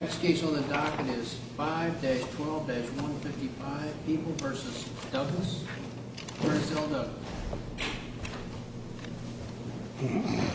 Next case on the docket is 5-12-155 People v. Douglas v. L. Douglas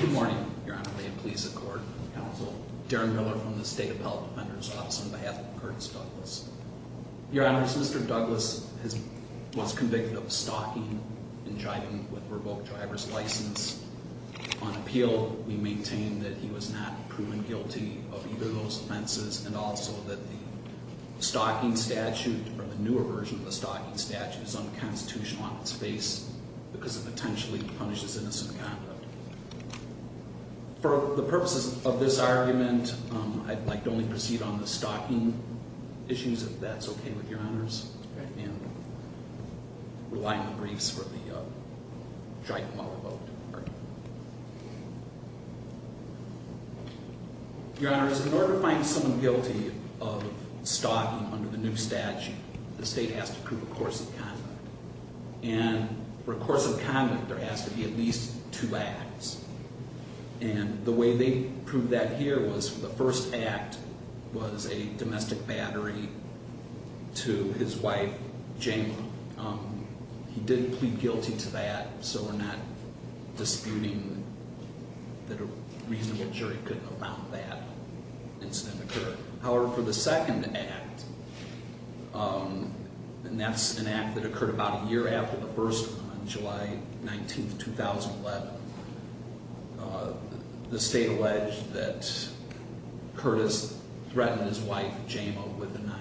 Good morning, Your Honor. May it please the Court and the Counsel. Darren Miller from the State Appellate Defender's Office on behalf of Curtis Douglas. Your Honor, Mr. Douglas was convicted of stalking and driving with a revoked driver's license. On appeal, we maintain that he was not proven guilty of either of those offenses and also that the stalking statute or the newer version of the stalking statute is unconstitutional on its face because it potentially punishes innocent conduct. For the purposes of this argument, I'd like to only proceed on the stalking issues, if that's okay with Your Honors, and rely on the briefs for the driving while revoked argument. Your Honors, in order to find someone guilty of stalking under the new statute, the State has to prove a course of conduct. And for a course of conduct, there has to be at least two acts. And the way they proved that here was the first act was a domestic battery to his wife, Jane. He didn't plead guilty to that, so we're not disputing that a reasonable jury couldn't have found that incident occurred. However, for the second act, and that's an act that occurred about a year after the first one, July 19, 2011, the State alleged that Curtis threatened his wife, Jamea, with a knife.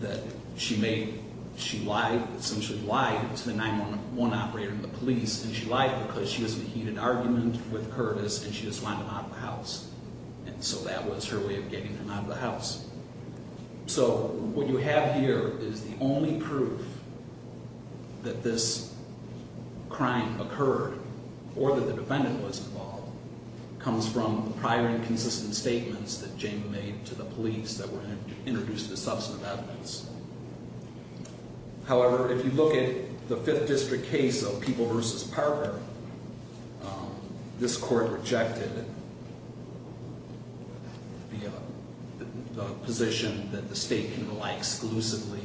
That she lied, essentially lied to the 911 operator and the police, and she lied because she was making an argument with Curtis and she just wanted him out of the house. And so that was her way of getting him out of the house. So what you have here is the only proof that this crime occurred or that the defendant was involved comes from the prior inconsistent statements that Jamea made to the police that were introduced as substantive evidence. However, if you look at the Fifth District case of People v. Parker, this court rejected the position that the State can rely exclusively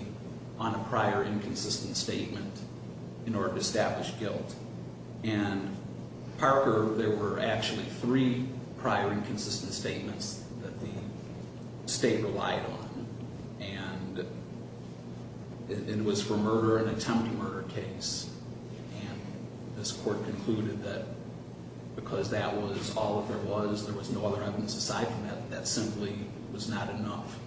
on a prior inconsistent statement in order to establish guilt. And Parker, there were actually three prior inconsistent statements that the State relied on, and it was for murder, an attempted murder case. And this court concluded that because that was all that there was, there was no other evidence aside from that, that simply was not enough.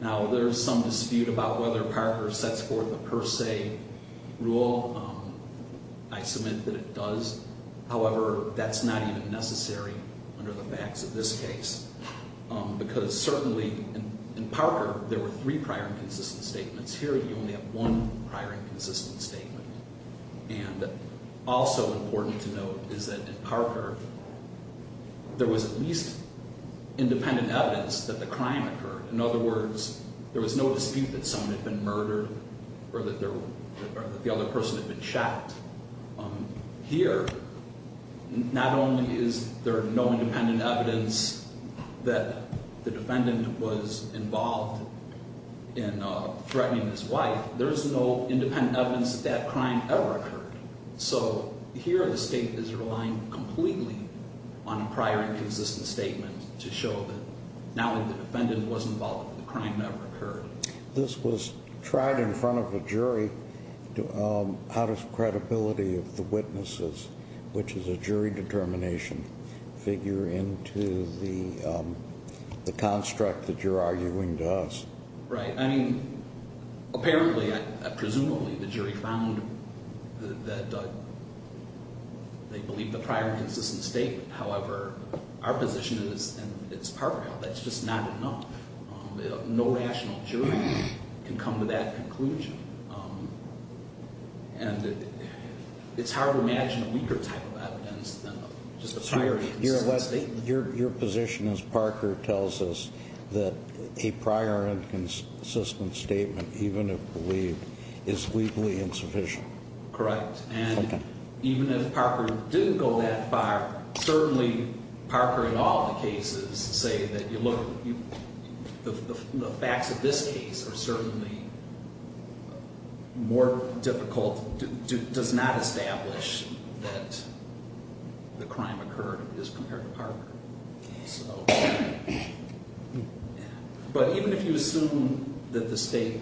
Now, there's some dispute about whether Parker sets forth a per se rule. I submit that it does. However, that's not even necessary under the facts of this case. Because certainly in Parker, there were three prior inconsistent statements. Here, you only have one prior inconsistent statement. And also important to note is that in Parker, there was at least independent evidence that the crime occurred. In other words, there was no dispute that someone had been murdered or that the other person had been shot. In fact, here, not only is there no independent evidence that the defendant was involved in threatening his wife, there's no independent evidence that that crime ever occurred. So here, the State is relying completely on a prior inconsistent statement to show that now that the defendant was involved, the crime never occurred. This was tried in front of a jury out of credibility of the witnesses, which is a jury determination figure into the construct that you're arguing to us. Right. I mean, apparently, presumably, the jury found that they believe the prior inconsistent statement. However, our position is, and it's Parker, that's just not enough. No rational jury can come to that conclusion. And it's hard to imagine a weaker type of evidence than just a prior inconsistent statement. Your position is, Parker tells us, that a prior inconsistent statement, even if believed, is legally insufficient. Correct. And even if Parker didn't go that far, certainly Parker in all the cases say that, look, the facts of this case are certainly more difficult, does not establish that the crime occurred as compared to Parker. So, but even if you assume that the State,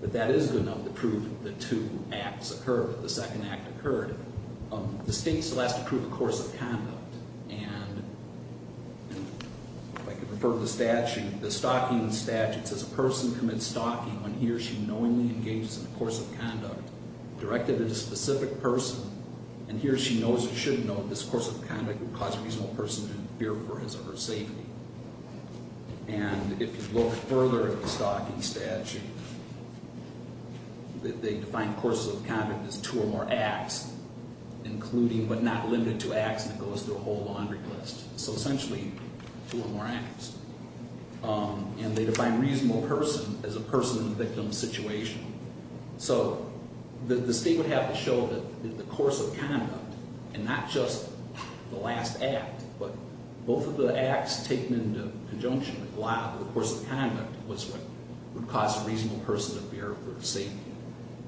that that is good enough to prove that two acts occurred, the second act occurred, the State still has to prove a course of conduct. And if I could refer to the statute, the stalking statute says a person commits stalking when he or she knowingly engages in a course of conduct directed at a specific person. And here she knows, or should know, this course of conduct would cause a reasonable person to fear for his or her safety. And if you look further at the stalking statute, they define courses of conduct as two or more acts, including, but not limited to acts, and it goes through a whole laundry list. So essentially, two or more acts. And they define reasonable person as a person in the victim's situation. So the State would have to show that the course of conduct, and not just the last act, but both of the acts taken into conjunction with a lot of the course of conduct was what would cause a reasonable person to fear for their safety.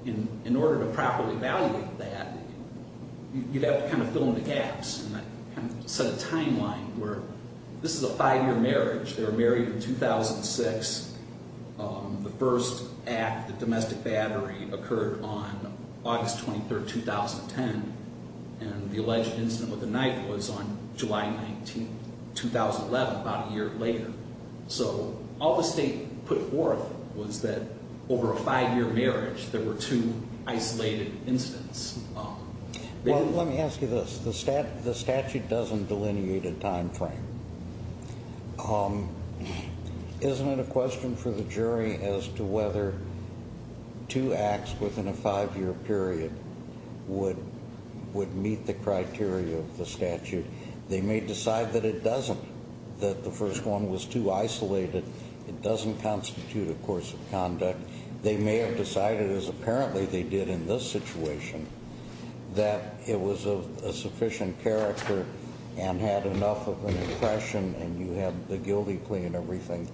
And in order to properly evaluate that, you'd have to kind of fill in the gaps and set a timeline where this is a five-year marriage. They were married in 2006. The first act, the domestic battery, occurred on August 23, 2010. And the alleged incident with the knife was on July 19, 2011, about a year later. So all the State put forth was that over a five-year marriage, there were two isolated incidents. Well, let me ask you this. The statute doesn't delineate a timeframe. Isn't it a question for the jury as to whether two acts within a five-year period would meet the criteria of the statute? They may decide that it doesn't, that the first one was too isolated. It doesn't constitute a course of conduct. They may have decided, as apparently they did in this situation, that it was of a sufficient character and had enough of an impression, and you have the guilty plea and everything,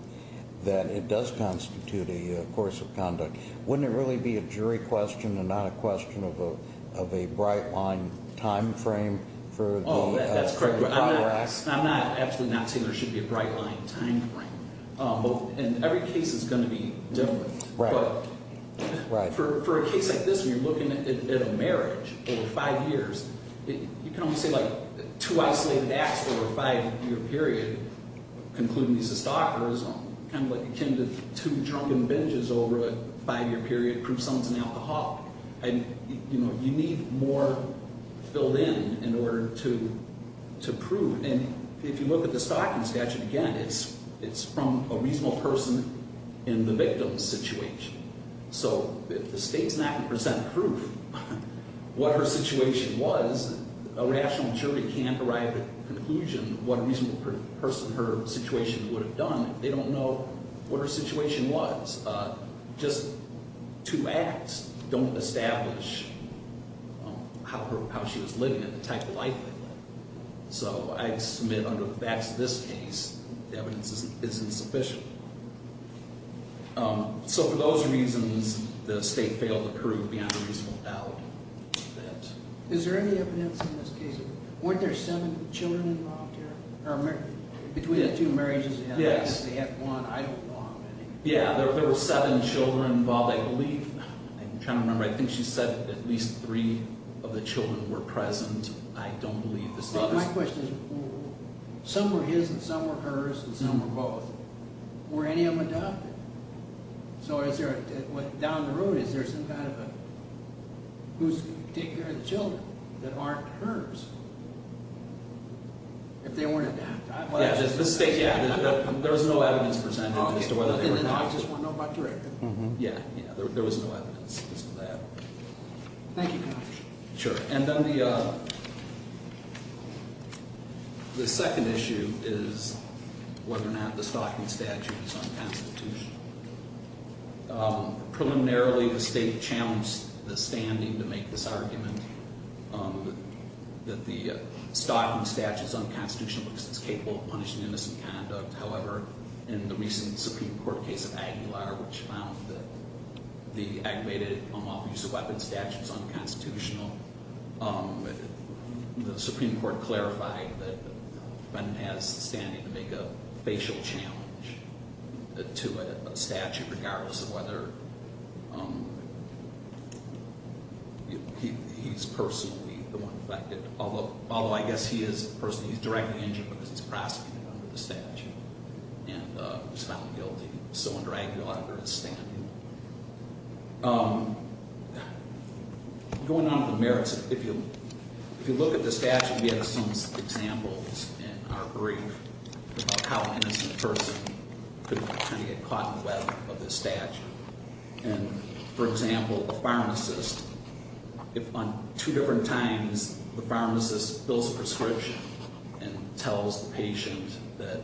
that it does constitute a course of conduct. Wouldn't it really be a jury question and not a question of a bright-line timeframe for the contracts? I'm absolutely not saying there should be a bright-line timeframe. And every case is going to be different. But for a case like this, when you're looking at a marriage over five years, you can only say, like, two isolated acts over a five-year period, concluding he's a stalker, is kind of like akin to two drunken binges over a five-year period to prove someone's an alcoholic. You need more filled in in order to prove. And if you look at the stalking statute again, it's from a reasonable person in the victim's situation. So if the state's not going to present proof what her situation was, a rational jury can't arrive at a conclusion of what a reasonable person in her situation would have done if they don't know what her situation was. Just two acts don't establish how she was living and the type of life they lived. So I submit under the facts of this case, the evidence isn't sufficient. So for those reasons, the state failed to prove beyond a reasonable doubt. Is there any evidence in this case? Weren't there seven children involved here? Between the two marriages, they had one. I don't know how many. Yeah, there were seven children involved, I believe. I'm trying to remember. I think she said at least three of the children were present. I don't believe the state does. My question is, some were his and some were hers and some were both. Were any of them adopted? So is there, down the road, is there some kind of a, who's taking care of the children that aren't hers? If they weren't adopted. Yeah, there was no evidence presented as to whether they were adopted. I just want to know about director. Yeah, there was no evidence as to that. Thank you, counsel. Sure. And then the second issue is whether or not the stalking statute is unconstitutional. Preliminarily, the state challenged the standing to make this argument that the stalking statute is unconstitutional because it's capable of punishing innocent conduct. However, in the recent Supreme Court case of Aguilar, which found that the aggravated unlawful use of weapons statute is unconstitutional, the Supreme Court clarified that the defendant has the standing to make a facial challenge to a statute regardless of whether he's personally the one affected. Although I guess he is a person who's directly injured because he's prosecuted under the statute and was found guilty. So under Aguilar, there is standing. Going on with the merits, if you look at the statute, we have some examples in our brief about how an innocent person could try to get caught in the web of this statute. And for example, a pharmacist, if on two different times the pharmacist fills a prescription and tells the patient that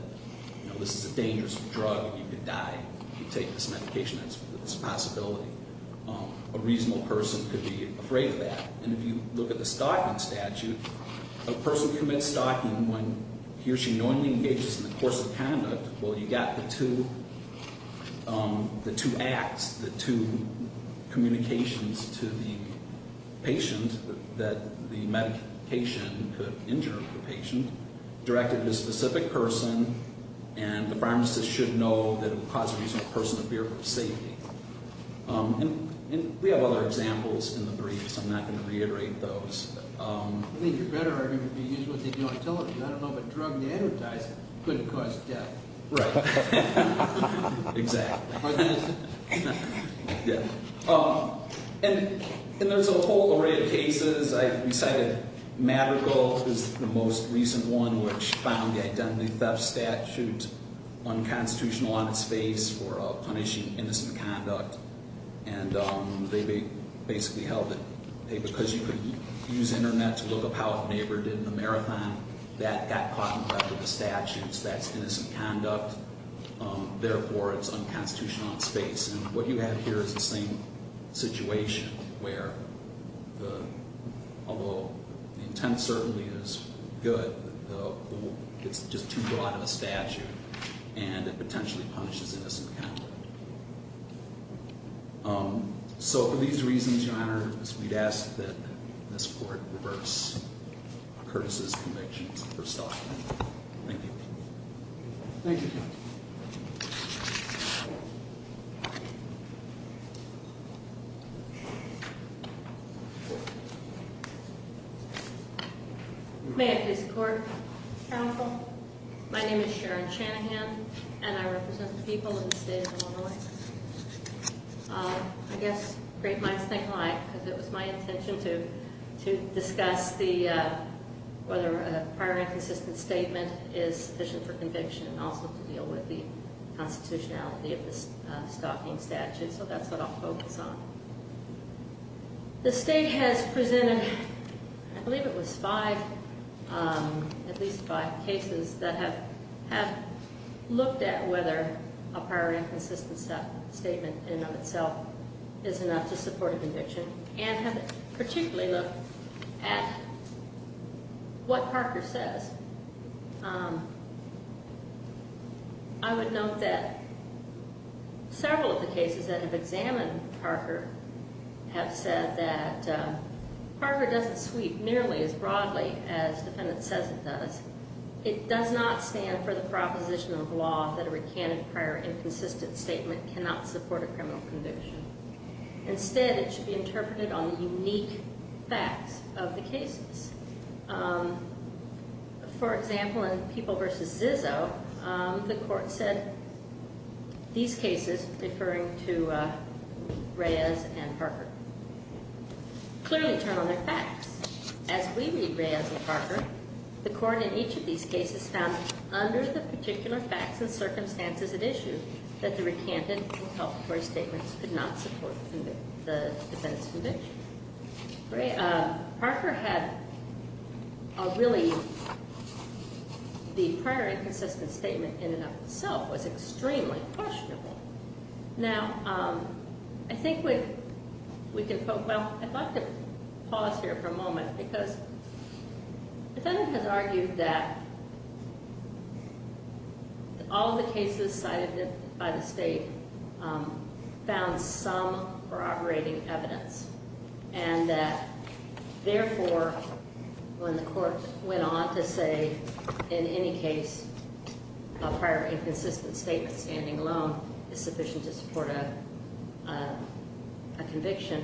this is a dangerous drug and you could die, you take this medication, that's a possibility, a reasonable person could be afraid of that. And if you look at the stalking statute, a person commits stalking when he or she knowingly engages in the course of conduct. Well, you got the two acts, the two communications to the patient that the medication could injure the patient directed to a specific person, and the pharmacist should know that it would cause a reasonable person to fear of safety. And we have other examples in the brief, so I'm not going to reiterate those. I think you're better off if you use what they do on television. I don't know, but drugged advertising could cause death. Right. Exactly. And there's a whole array of cases. I cited Madrigal is the most recent one, which found the identity theft statute unconstitutional on its face for punishing innocent conduct. And they basically held it because you could use Internet to look up how a neighbor did in a marathon. That got caught in front of the statutes. That's innocent conduct. Therefore, it's unconstitutional on its face. And what you have here is the same situation where, although the intent certainly is good, it's just too broad of a statute and it potentially punishes innocent conduct. So for these reasons, Your Honor, we'd ask that this court reverse Curtis's convictions for stopping. Thank you. Thank you, counsel. May I please report, counsel? My name is Sharon Chanahan, and I represent the people of the state of Illinois. I guess great minds think alike, because it was my intention to discuss whether a prior inconsistent statement is sufficient for conviction and also to deal with the constitutionality of the stopping statute. So that's what I'll focus on. The state has presented, I believe it was five, at least five cases that have looked at whether a prior inconsistent statement in and of itself is enough to support a conviction and have particularly looked at what Parker says. I would note that several of the cases that have examined Parker have said that Parker doesn't sweep nearly as broadly as the defendant says it does. It does not stand for the proposition of law that a recanted prior inconsistent statement cannot support a criminal conviction. Instead, it should be interpreted on the unique facts of the cases. For example, in People v. Zizzo, the court said these cases, referring to Reyes and Parker, clearly turn on their facts. As we read Reyes and Parker, the court in each of these cases found under the particular facts and circumstances at issue that the recanted inculpatory statements could not support the defendant's conviction. Parker had a really, the prior inconsistent statement in and of itself was extremely questionable. Now, I think we can, well, I'd like to pause here for a moment because the defendant has argued that all the cases cited by the state found some corroborating evidence. And that, therefore, when the court went on to say in any case a prior inconsistent statement standing alone is sufficient to support a conviction,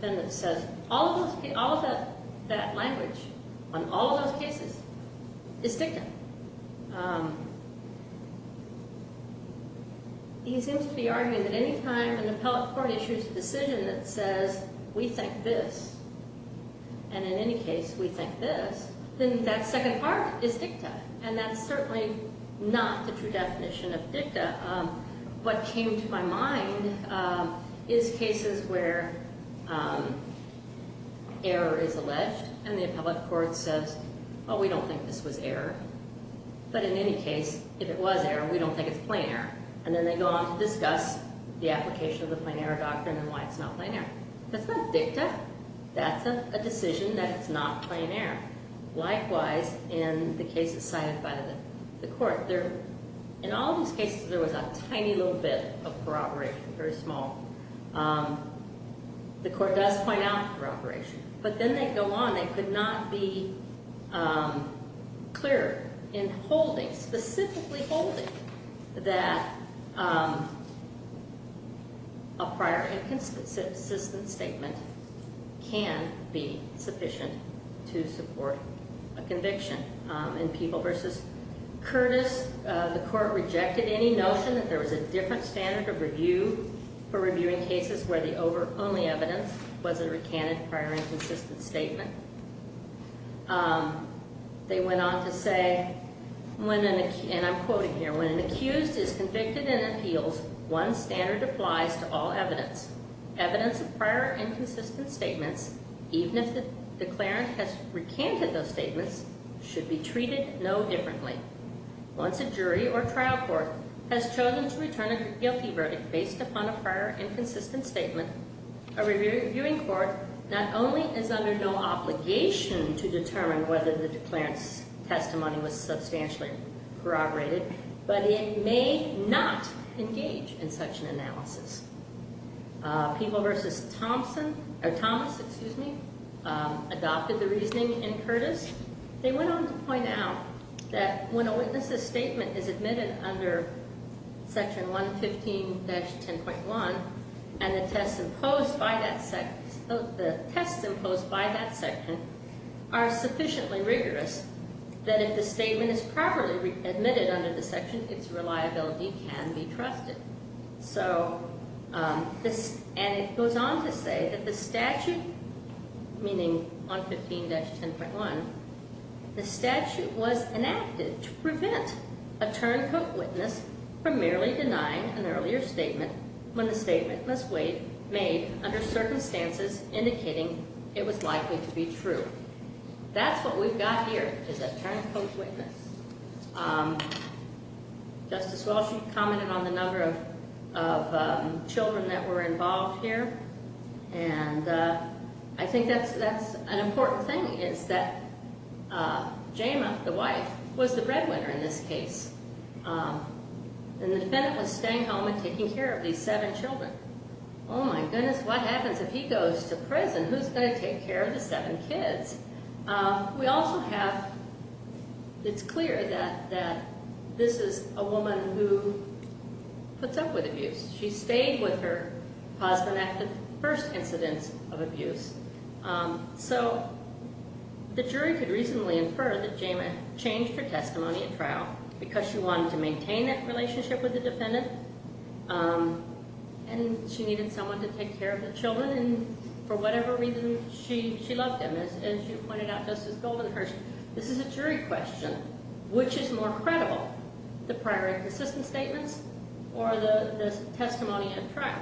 the defendant says all of those cases, all of that language on all of those cases is dictum. And he seems to be arguing that any time an appellate court issues a decision that says we think this, and in any case we think this, then that second part is dictum. And that's certainly not the true definition of dictum. But what came to my mind is cases where error is alleged and the appellate court says, oh, we don't think this was error. But in any case, if it was error, we don't think it's plain error. And then they go on to discuss the application of the plain error doctrine and why it's not plain error. That's not dictum. That's a decision that it's not plain error. Likewise, in the cases cited by the court, in all of those cases, there was a tiny little bit of corroboration, very small. The court does point out corroboration. But then they go on. They could not be clearer in holding, specifically holding, that a prior inconsistent statement can be sufficient to support a conviction. In People v. Curtis, the court rejected any notion that there was a different standard of review for reviewing cases where the only evidence was a recanted prior inconsistent statement. They went on to say, and I'm quoting here, when an accused is convicted in appeals, one standard applies to all evidence. Evidence of prior inconsistent statements, even if the declarant has recanted those statements, should be treated no differently. Once a jury or trial court has chosen to return a guilty verdict based upon a prior inconsistent statement, a reviewing court not only is under no obligation to determine whether the declarant's testimony was substantially corroborated, but it may not engage in such an analysis. People v. Thomas adopted the reasoning in Curtis. They went on to point out that when a witness's statement is admitted under Section 115-10.1, and the tests imposed by that section are sufficiently rigorous, that if the statement is properly admitted under the section, its reliability can be trusted. And it goes on to say that the statute, meaning 115-10.1, the statute was enacted to prevent a turncoat witness from merely denying an earlier statement when the statement was made under circumstances indicating it was likely to be true. That's what we've got here, is a turncoat witness. Justice Walsh commented on the number of children that were involved here. And I think that's an important thing, is that Jama, the wife, was the breadwinner in this case. And the defendant was staying home and taking care of these seven children. Oh my goodness, what happens if he goes to prison? Who's going to take care of the seven kids? We also have, it's clear that this is a woman who puts up with abuse. She stayed with her husband after the first incidents of abuse. So the jury could reasonably infer that Jama changed her testimony at trial because she wanted to maintain that relationship with the defendant. And she needed someone to take care of the children. And for whatever reason, she loved him. As you pointed out, Justice Goldenhurst, this is a jury question. Which is more credible, the prior inconsistent statements or the testimony at trial?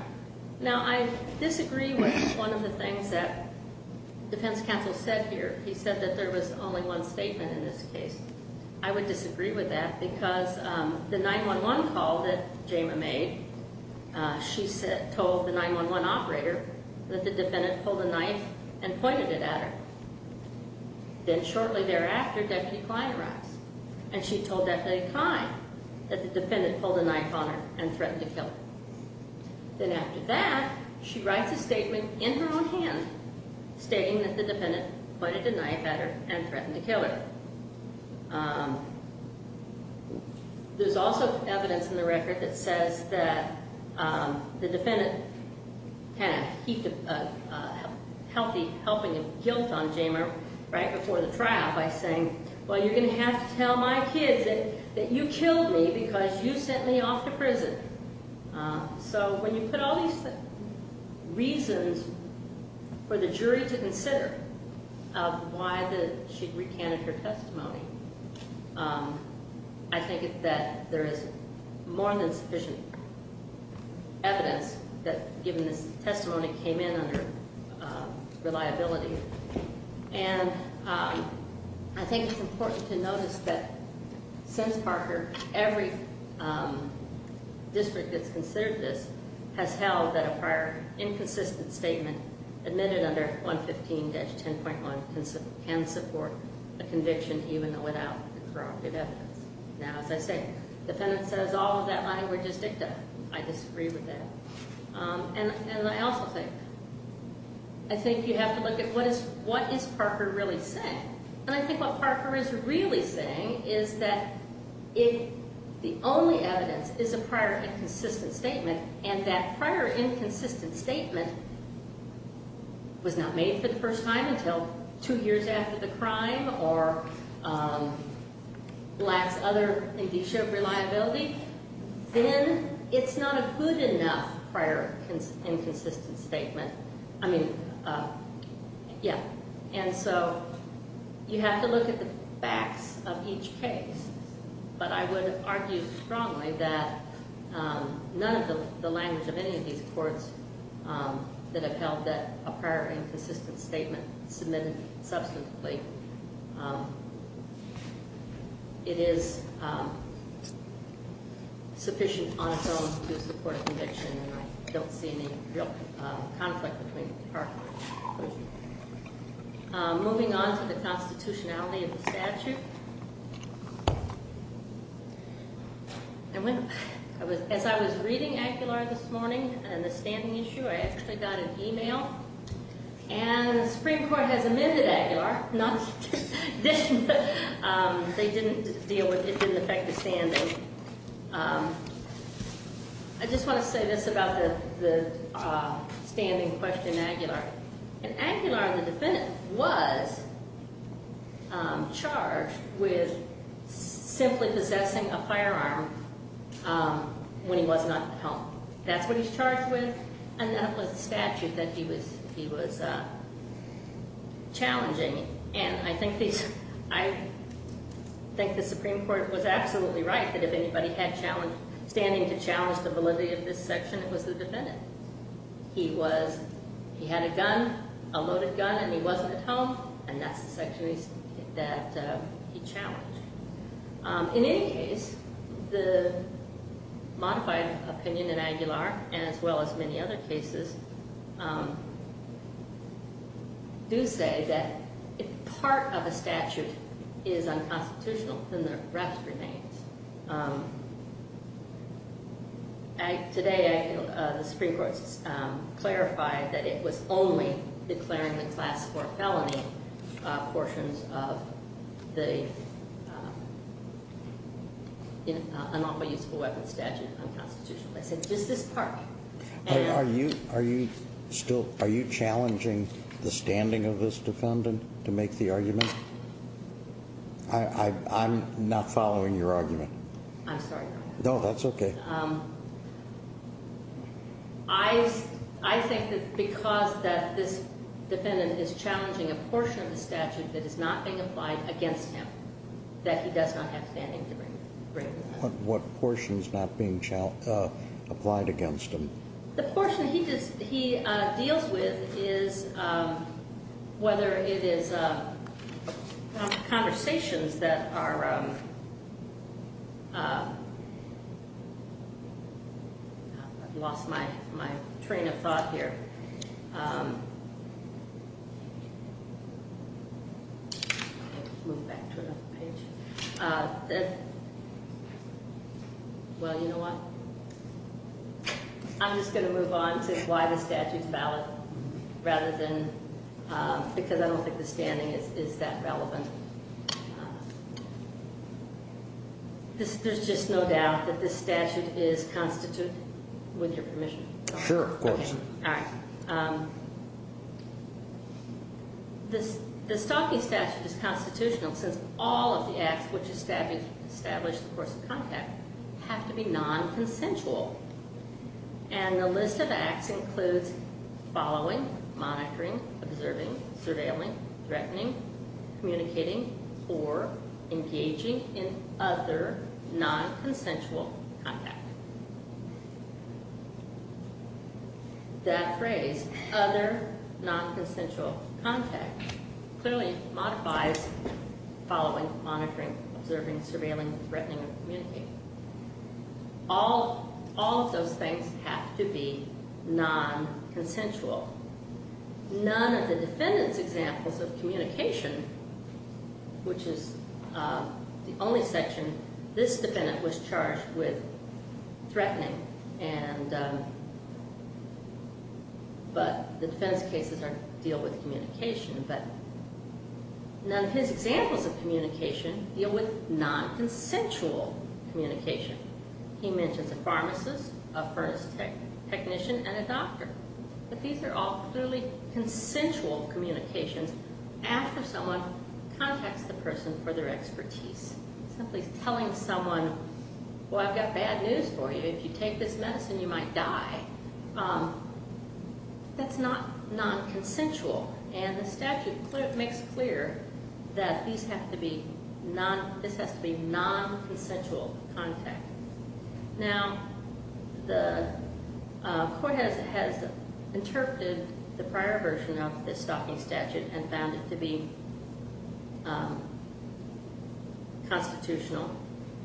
Now, I disagree with one of the things that defense counsel said here. He said that there was only one statement in this case. I would disagree with that because the 911 call that Jama made, she told the 911 operator that the defendant pulled a knife and pointed it at her. Then shortly thereafter, Deputy Klein arrives. And she told Deputy Klein that the defendant pulled a knife on her and threatened to kill her. Then after that, she writes a statement in her own hand stating that the defendant pointed a knife at her and threatened to kill her. There's also evidence in the record that says that the defendant kind of heaped a healthy helping of guilt on Jama right before the trial by saying, well, you're going to have to tell my kids that you killed me because you sent me off to prison. So when you put all these reasons for the jury to consider of why she recanted her testimony, I think that there is more than sufficient evidence that, given this testimony, came in under reliability. And I think it's important to notice that since Parker, every district that's considered this has held that a prior inconsistent statement admitted under 115-10.1 can support a conviction even without corroborative evidence. Now, as I say, the defendant says all of that language is dicta. I disagree with that. And I also think, I think you have to look at what is Parker really saying. And I think what Parker is really saying is that if the only evidence is a prior inconsistent statement and that prior inconsistent statement was not made for the first time until two years after the crime or lacks other indicia of reliability, then it's not a good enough prior inconsistent statement. I mean, yeah. And so you have to look at the facts of each case. But I would argue strongly that none of the language of any of these courts that have held that a prior inconsistent statement submitted substantively, it is sufficient on its own to support a conviction. And I don't see any real conflict between Parker. As I was reading Aguilar this morning and the standing issue, I actually got an email and the Supreme Court has amended Aguilar. They didn't deal with it. It didn't affect the standing. I just want to say this about the standing question in Aguilar. In Aguilar, the defendant was charged with simply possessing a firearm when he was not at home. That's what he's charged with and that was the statute that he was challenging. And I think the Supreme Court was absolutely right that if anybody had standing to challenge the validity of this section, it was the defendant. He had a gun, a loaded gun, and he wasn't at home, and that's the section that he challenged. In any case, the modified opinion in Aguilar, as well as many other cases, do say that if part of a statute is unconstitutional, then the rest remains. Today, the Supreme Court clarified that it was only declaring the class 4 felony portions of the unlawful use of a weapon statute unconstitutional. They said, just this part. Are you challenging the standing of this defendant to make the argument? I'm not following your argument. I'm sorry, Your Honor. No, that's okay. I think that because this defendant is challenging a portion of the statute that is not being applied against him, that he does not have standing to bring it up. What portion is not being applied against him? The portion he deals with is whether it is conversations that are… I've lost my train of thought here. Well, you know what? I'm just going to move on to why the statute is valid rather than… because I don't think the standing is that relevant. There's just no doubt that this statute is constituted with your permission. Sure, of course. The Stalking Statute is constitutional since all of the acts which establish the course of contact have to be non-consensual. And the list of acts includes following, monitoring, observing, surveilling, threatening, communicating, or engaging in other non-consensual contact. That phrase, other non-consensual contact, clearly modifies following, monitoring, observing, surveilling, threatening, or communicating. All of those things have to be non-consensual. None of the defendant's examples of communication, which is the only section… this defendant was charged with threatening. But the defendant's cases deal with communication. But none of his examples of communication deal with non-consensual communication. He mentions a pharmacist, a furnace technician, and a doctor. But these are all clearly consensual communications after someone contacts the person for their expertise. Simply telling someone, well, I've got bad news for you. If you take this medicine, you might die. That's not non-consensual. And the statute makes clear that this has to be non-consensual contact. Now, the court has interpreted the prior version of this stalking statute and found it to be constitutional,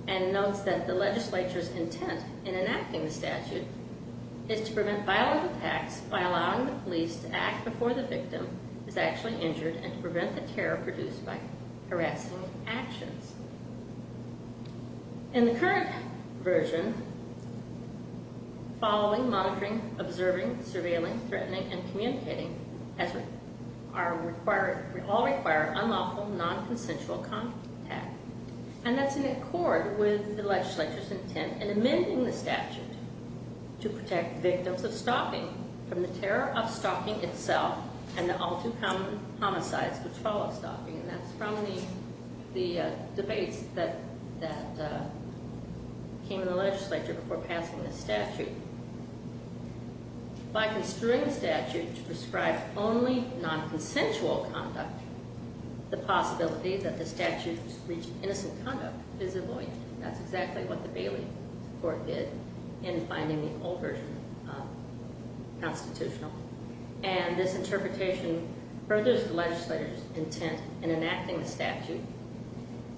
and notes that the legislature's intent in enacting the statute is to prevent violent attacks by allowing the police to act before the victim is actually injured and to prevent the terror produced by harassing actions. In the current version, following, monitoring, observing, surveilling, threatening, and communicating all require unlawful, non-consensual contact. And that's in accord with the legislature's intent in amending the statute. To protect victims of stalking from the terror of stalking itself and the all-too-common homicides which follow stalking. And that's from the debates that came in the legislature before passing this statute. By construing the statute to prescribe only non-consensual conduct, the possibility that the statute would reach innocent conduct is avoided. That's exactly what the Bailey Court did in finding the older version constitutional. And this interpretation furthers the legislature's intent in enacting the statute.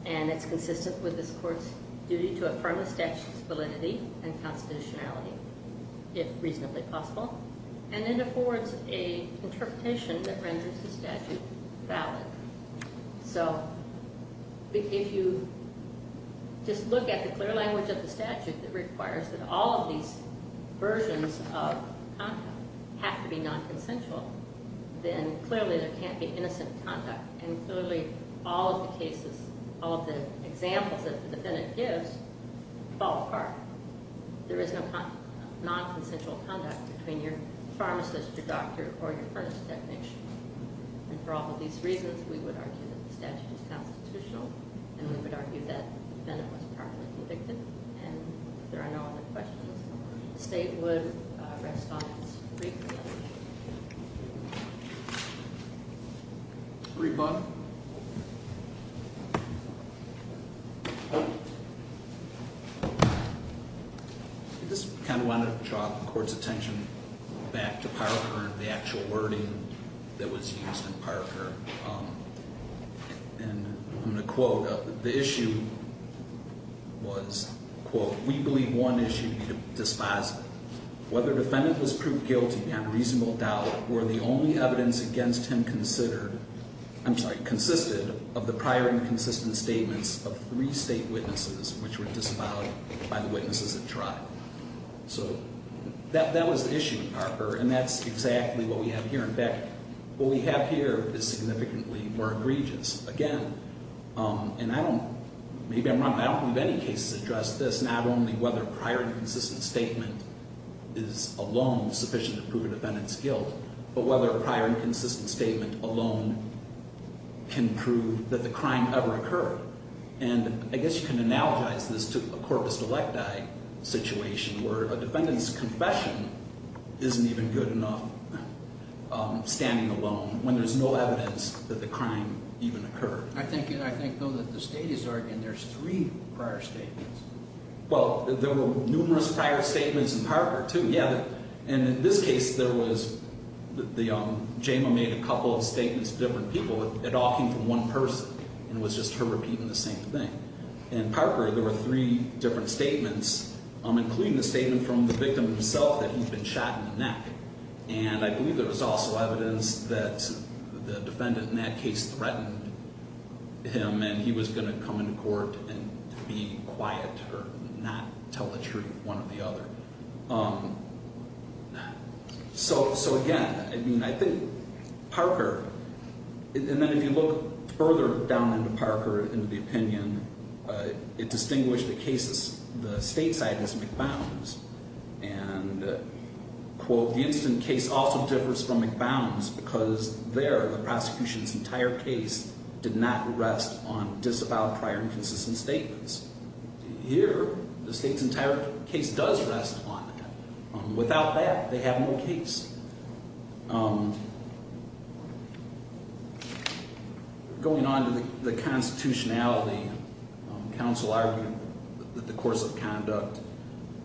And it's consistent with this court's duty to affirm the statute's validity and constitutionality, if reasonably possible. And it affords an interpretation that renders the statute valid. So, if you just look at the clear language of the statute that requires that all of these versions of conduct have to be non-consensual, then clearly there can't be innocent conduct. And clearly all of the cases, all of the examples that the defendant gives fall apart. There is no non-consensual conduct between your pharmacist, your doctor, or your furnace technician. And for all of these reasons, we would argue that the statute is constitutional. And we would argue that the defendant was properly convicted. And if there are no other questions, the State would rest on its free will. Greg Bonner? I just kind of want to draw the Court's attention back to Parker and the actual wording that was used in Parker. And I'm going to quote. The issue was, quote, We believe one issue to be dispositive. Whether the defendant was proved guilty on reasonable doubt were the only evidence against him considered, I'm sorry, consisted of the prior inconsistent statements of three State witnesses which were disavowed by the witnesses that tried. So, that was the issue in Parker. And that's exactly what we have here. What we have here is significantly more egregious. Again, and I don't, maybe I'm wrong, but I don't think many cases address this, not only whether a prior inconsistent statement is alone sufficient to prove a defendant's guilt, but whether a prior inconsistent statement alone can prove that the crime ever occurred. And I guess you can analogize this to a corpus electi situation where a defendant's confession isn't even good enough standing alone when there's no evidence that the crime even occurred. I think, though, that the State is arguing there's three prior statements. Well, there were numerous prior statements in Parker, too. Yeah, and in this case, there was, Jama made a couple of statements to different people. It all came from one person, and it was just her repeating the same thing. And in Parker, there were three different statements, including the statement from the victim himself that he'd been shot in the neck. And I believe there was also evidence that the defendant in that case threatened him and he was going to come into court and be quiet or not tell the truth, one or the other. So, again, I mean, I think Parker, and then if you look further down into Parker, into the opinion, it distinguished the cases, the State side as McBowns. And, quote, the incident case also differs from McBowns because there the prosecution's entire case did not rest on disavowed prior inconsistent statements. Here, the State's entire case does rest on that. Without that, they have no case. Going on to the constitutionality, counsel argued that the course of conduct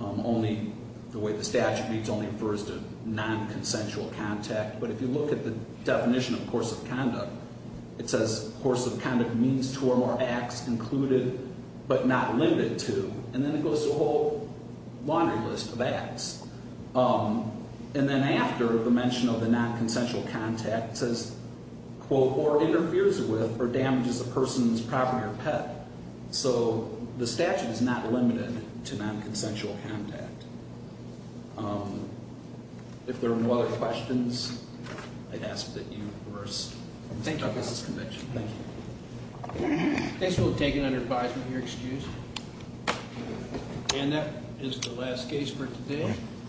only, the way the statute reads, only refers to non-consensual contact. But if you look at the definition of course of conduct, it says course of conduct means two or more acts included, but not limited to. And then after the mention of the non-consensual contact, it says, quote, or interferes with or damages a person's property or pet. So the statute is not limited to non-consensual contact. If there are no other questions, I'd ask that you reverse. Thank you. I guess we'll take it under advisement here, excuse me. And that is the last case for today. Thank you.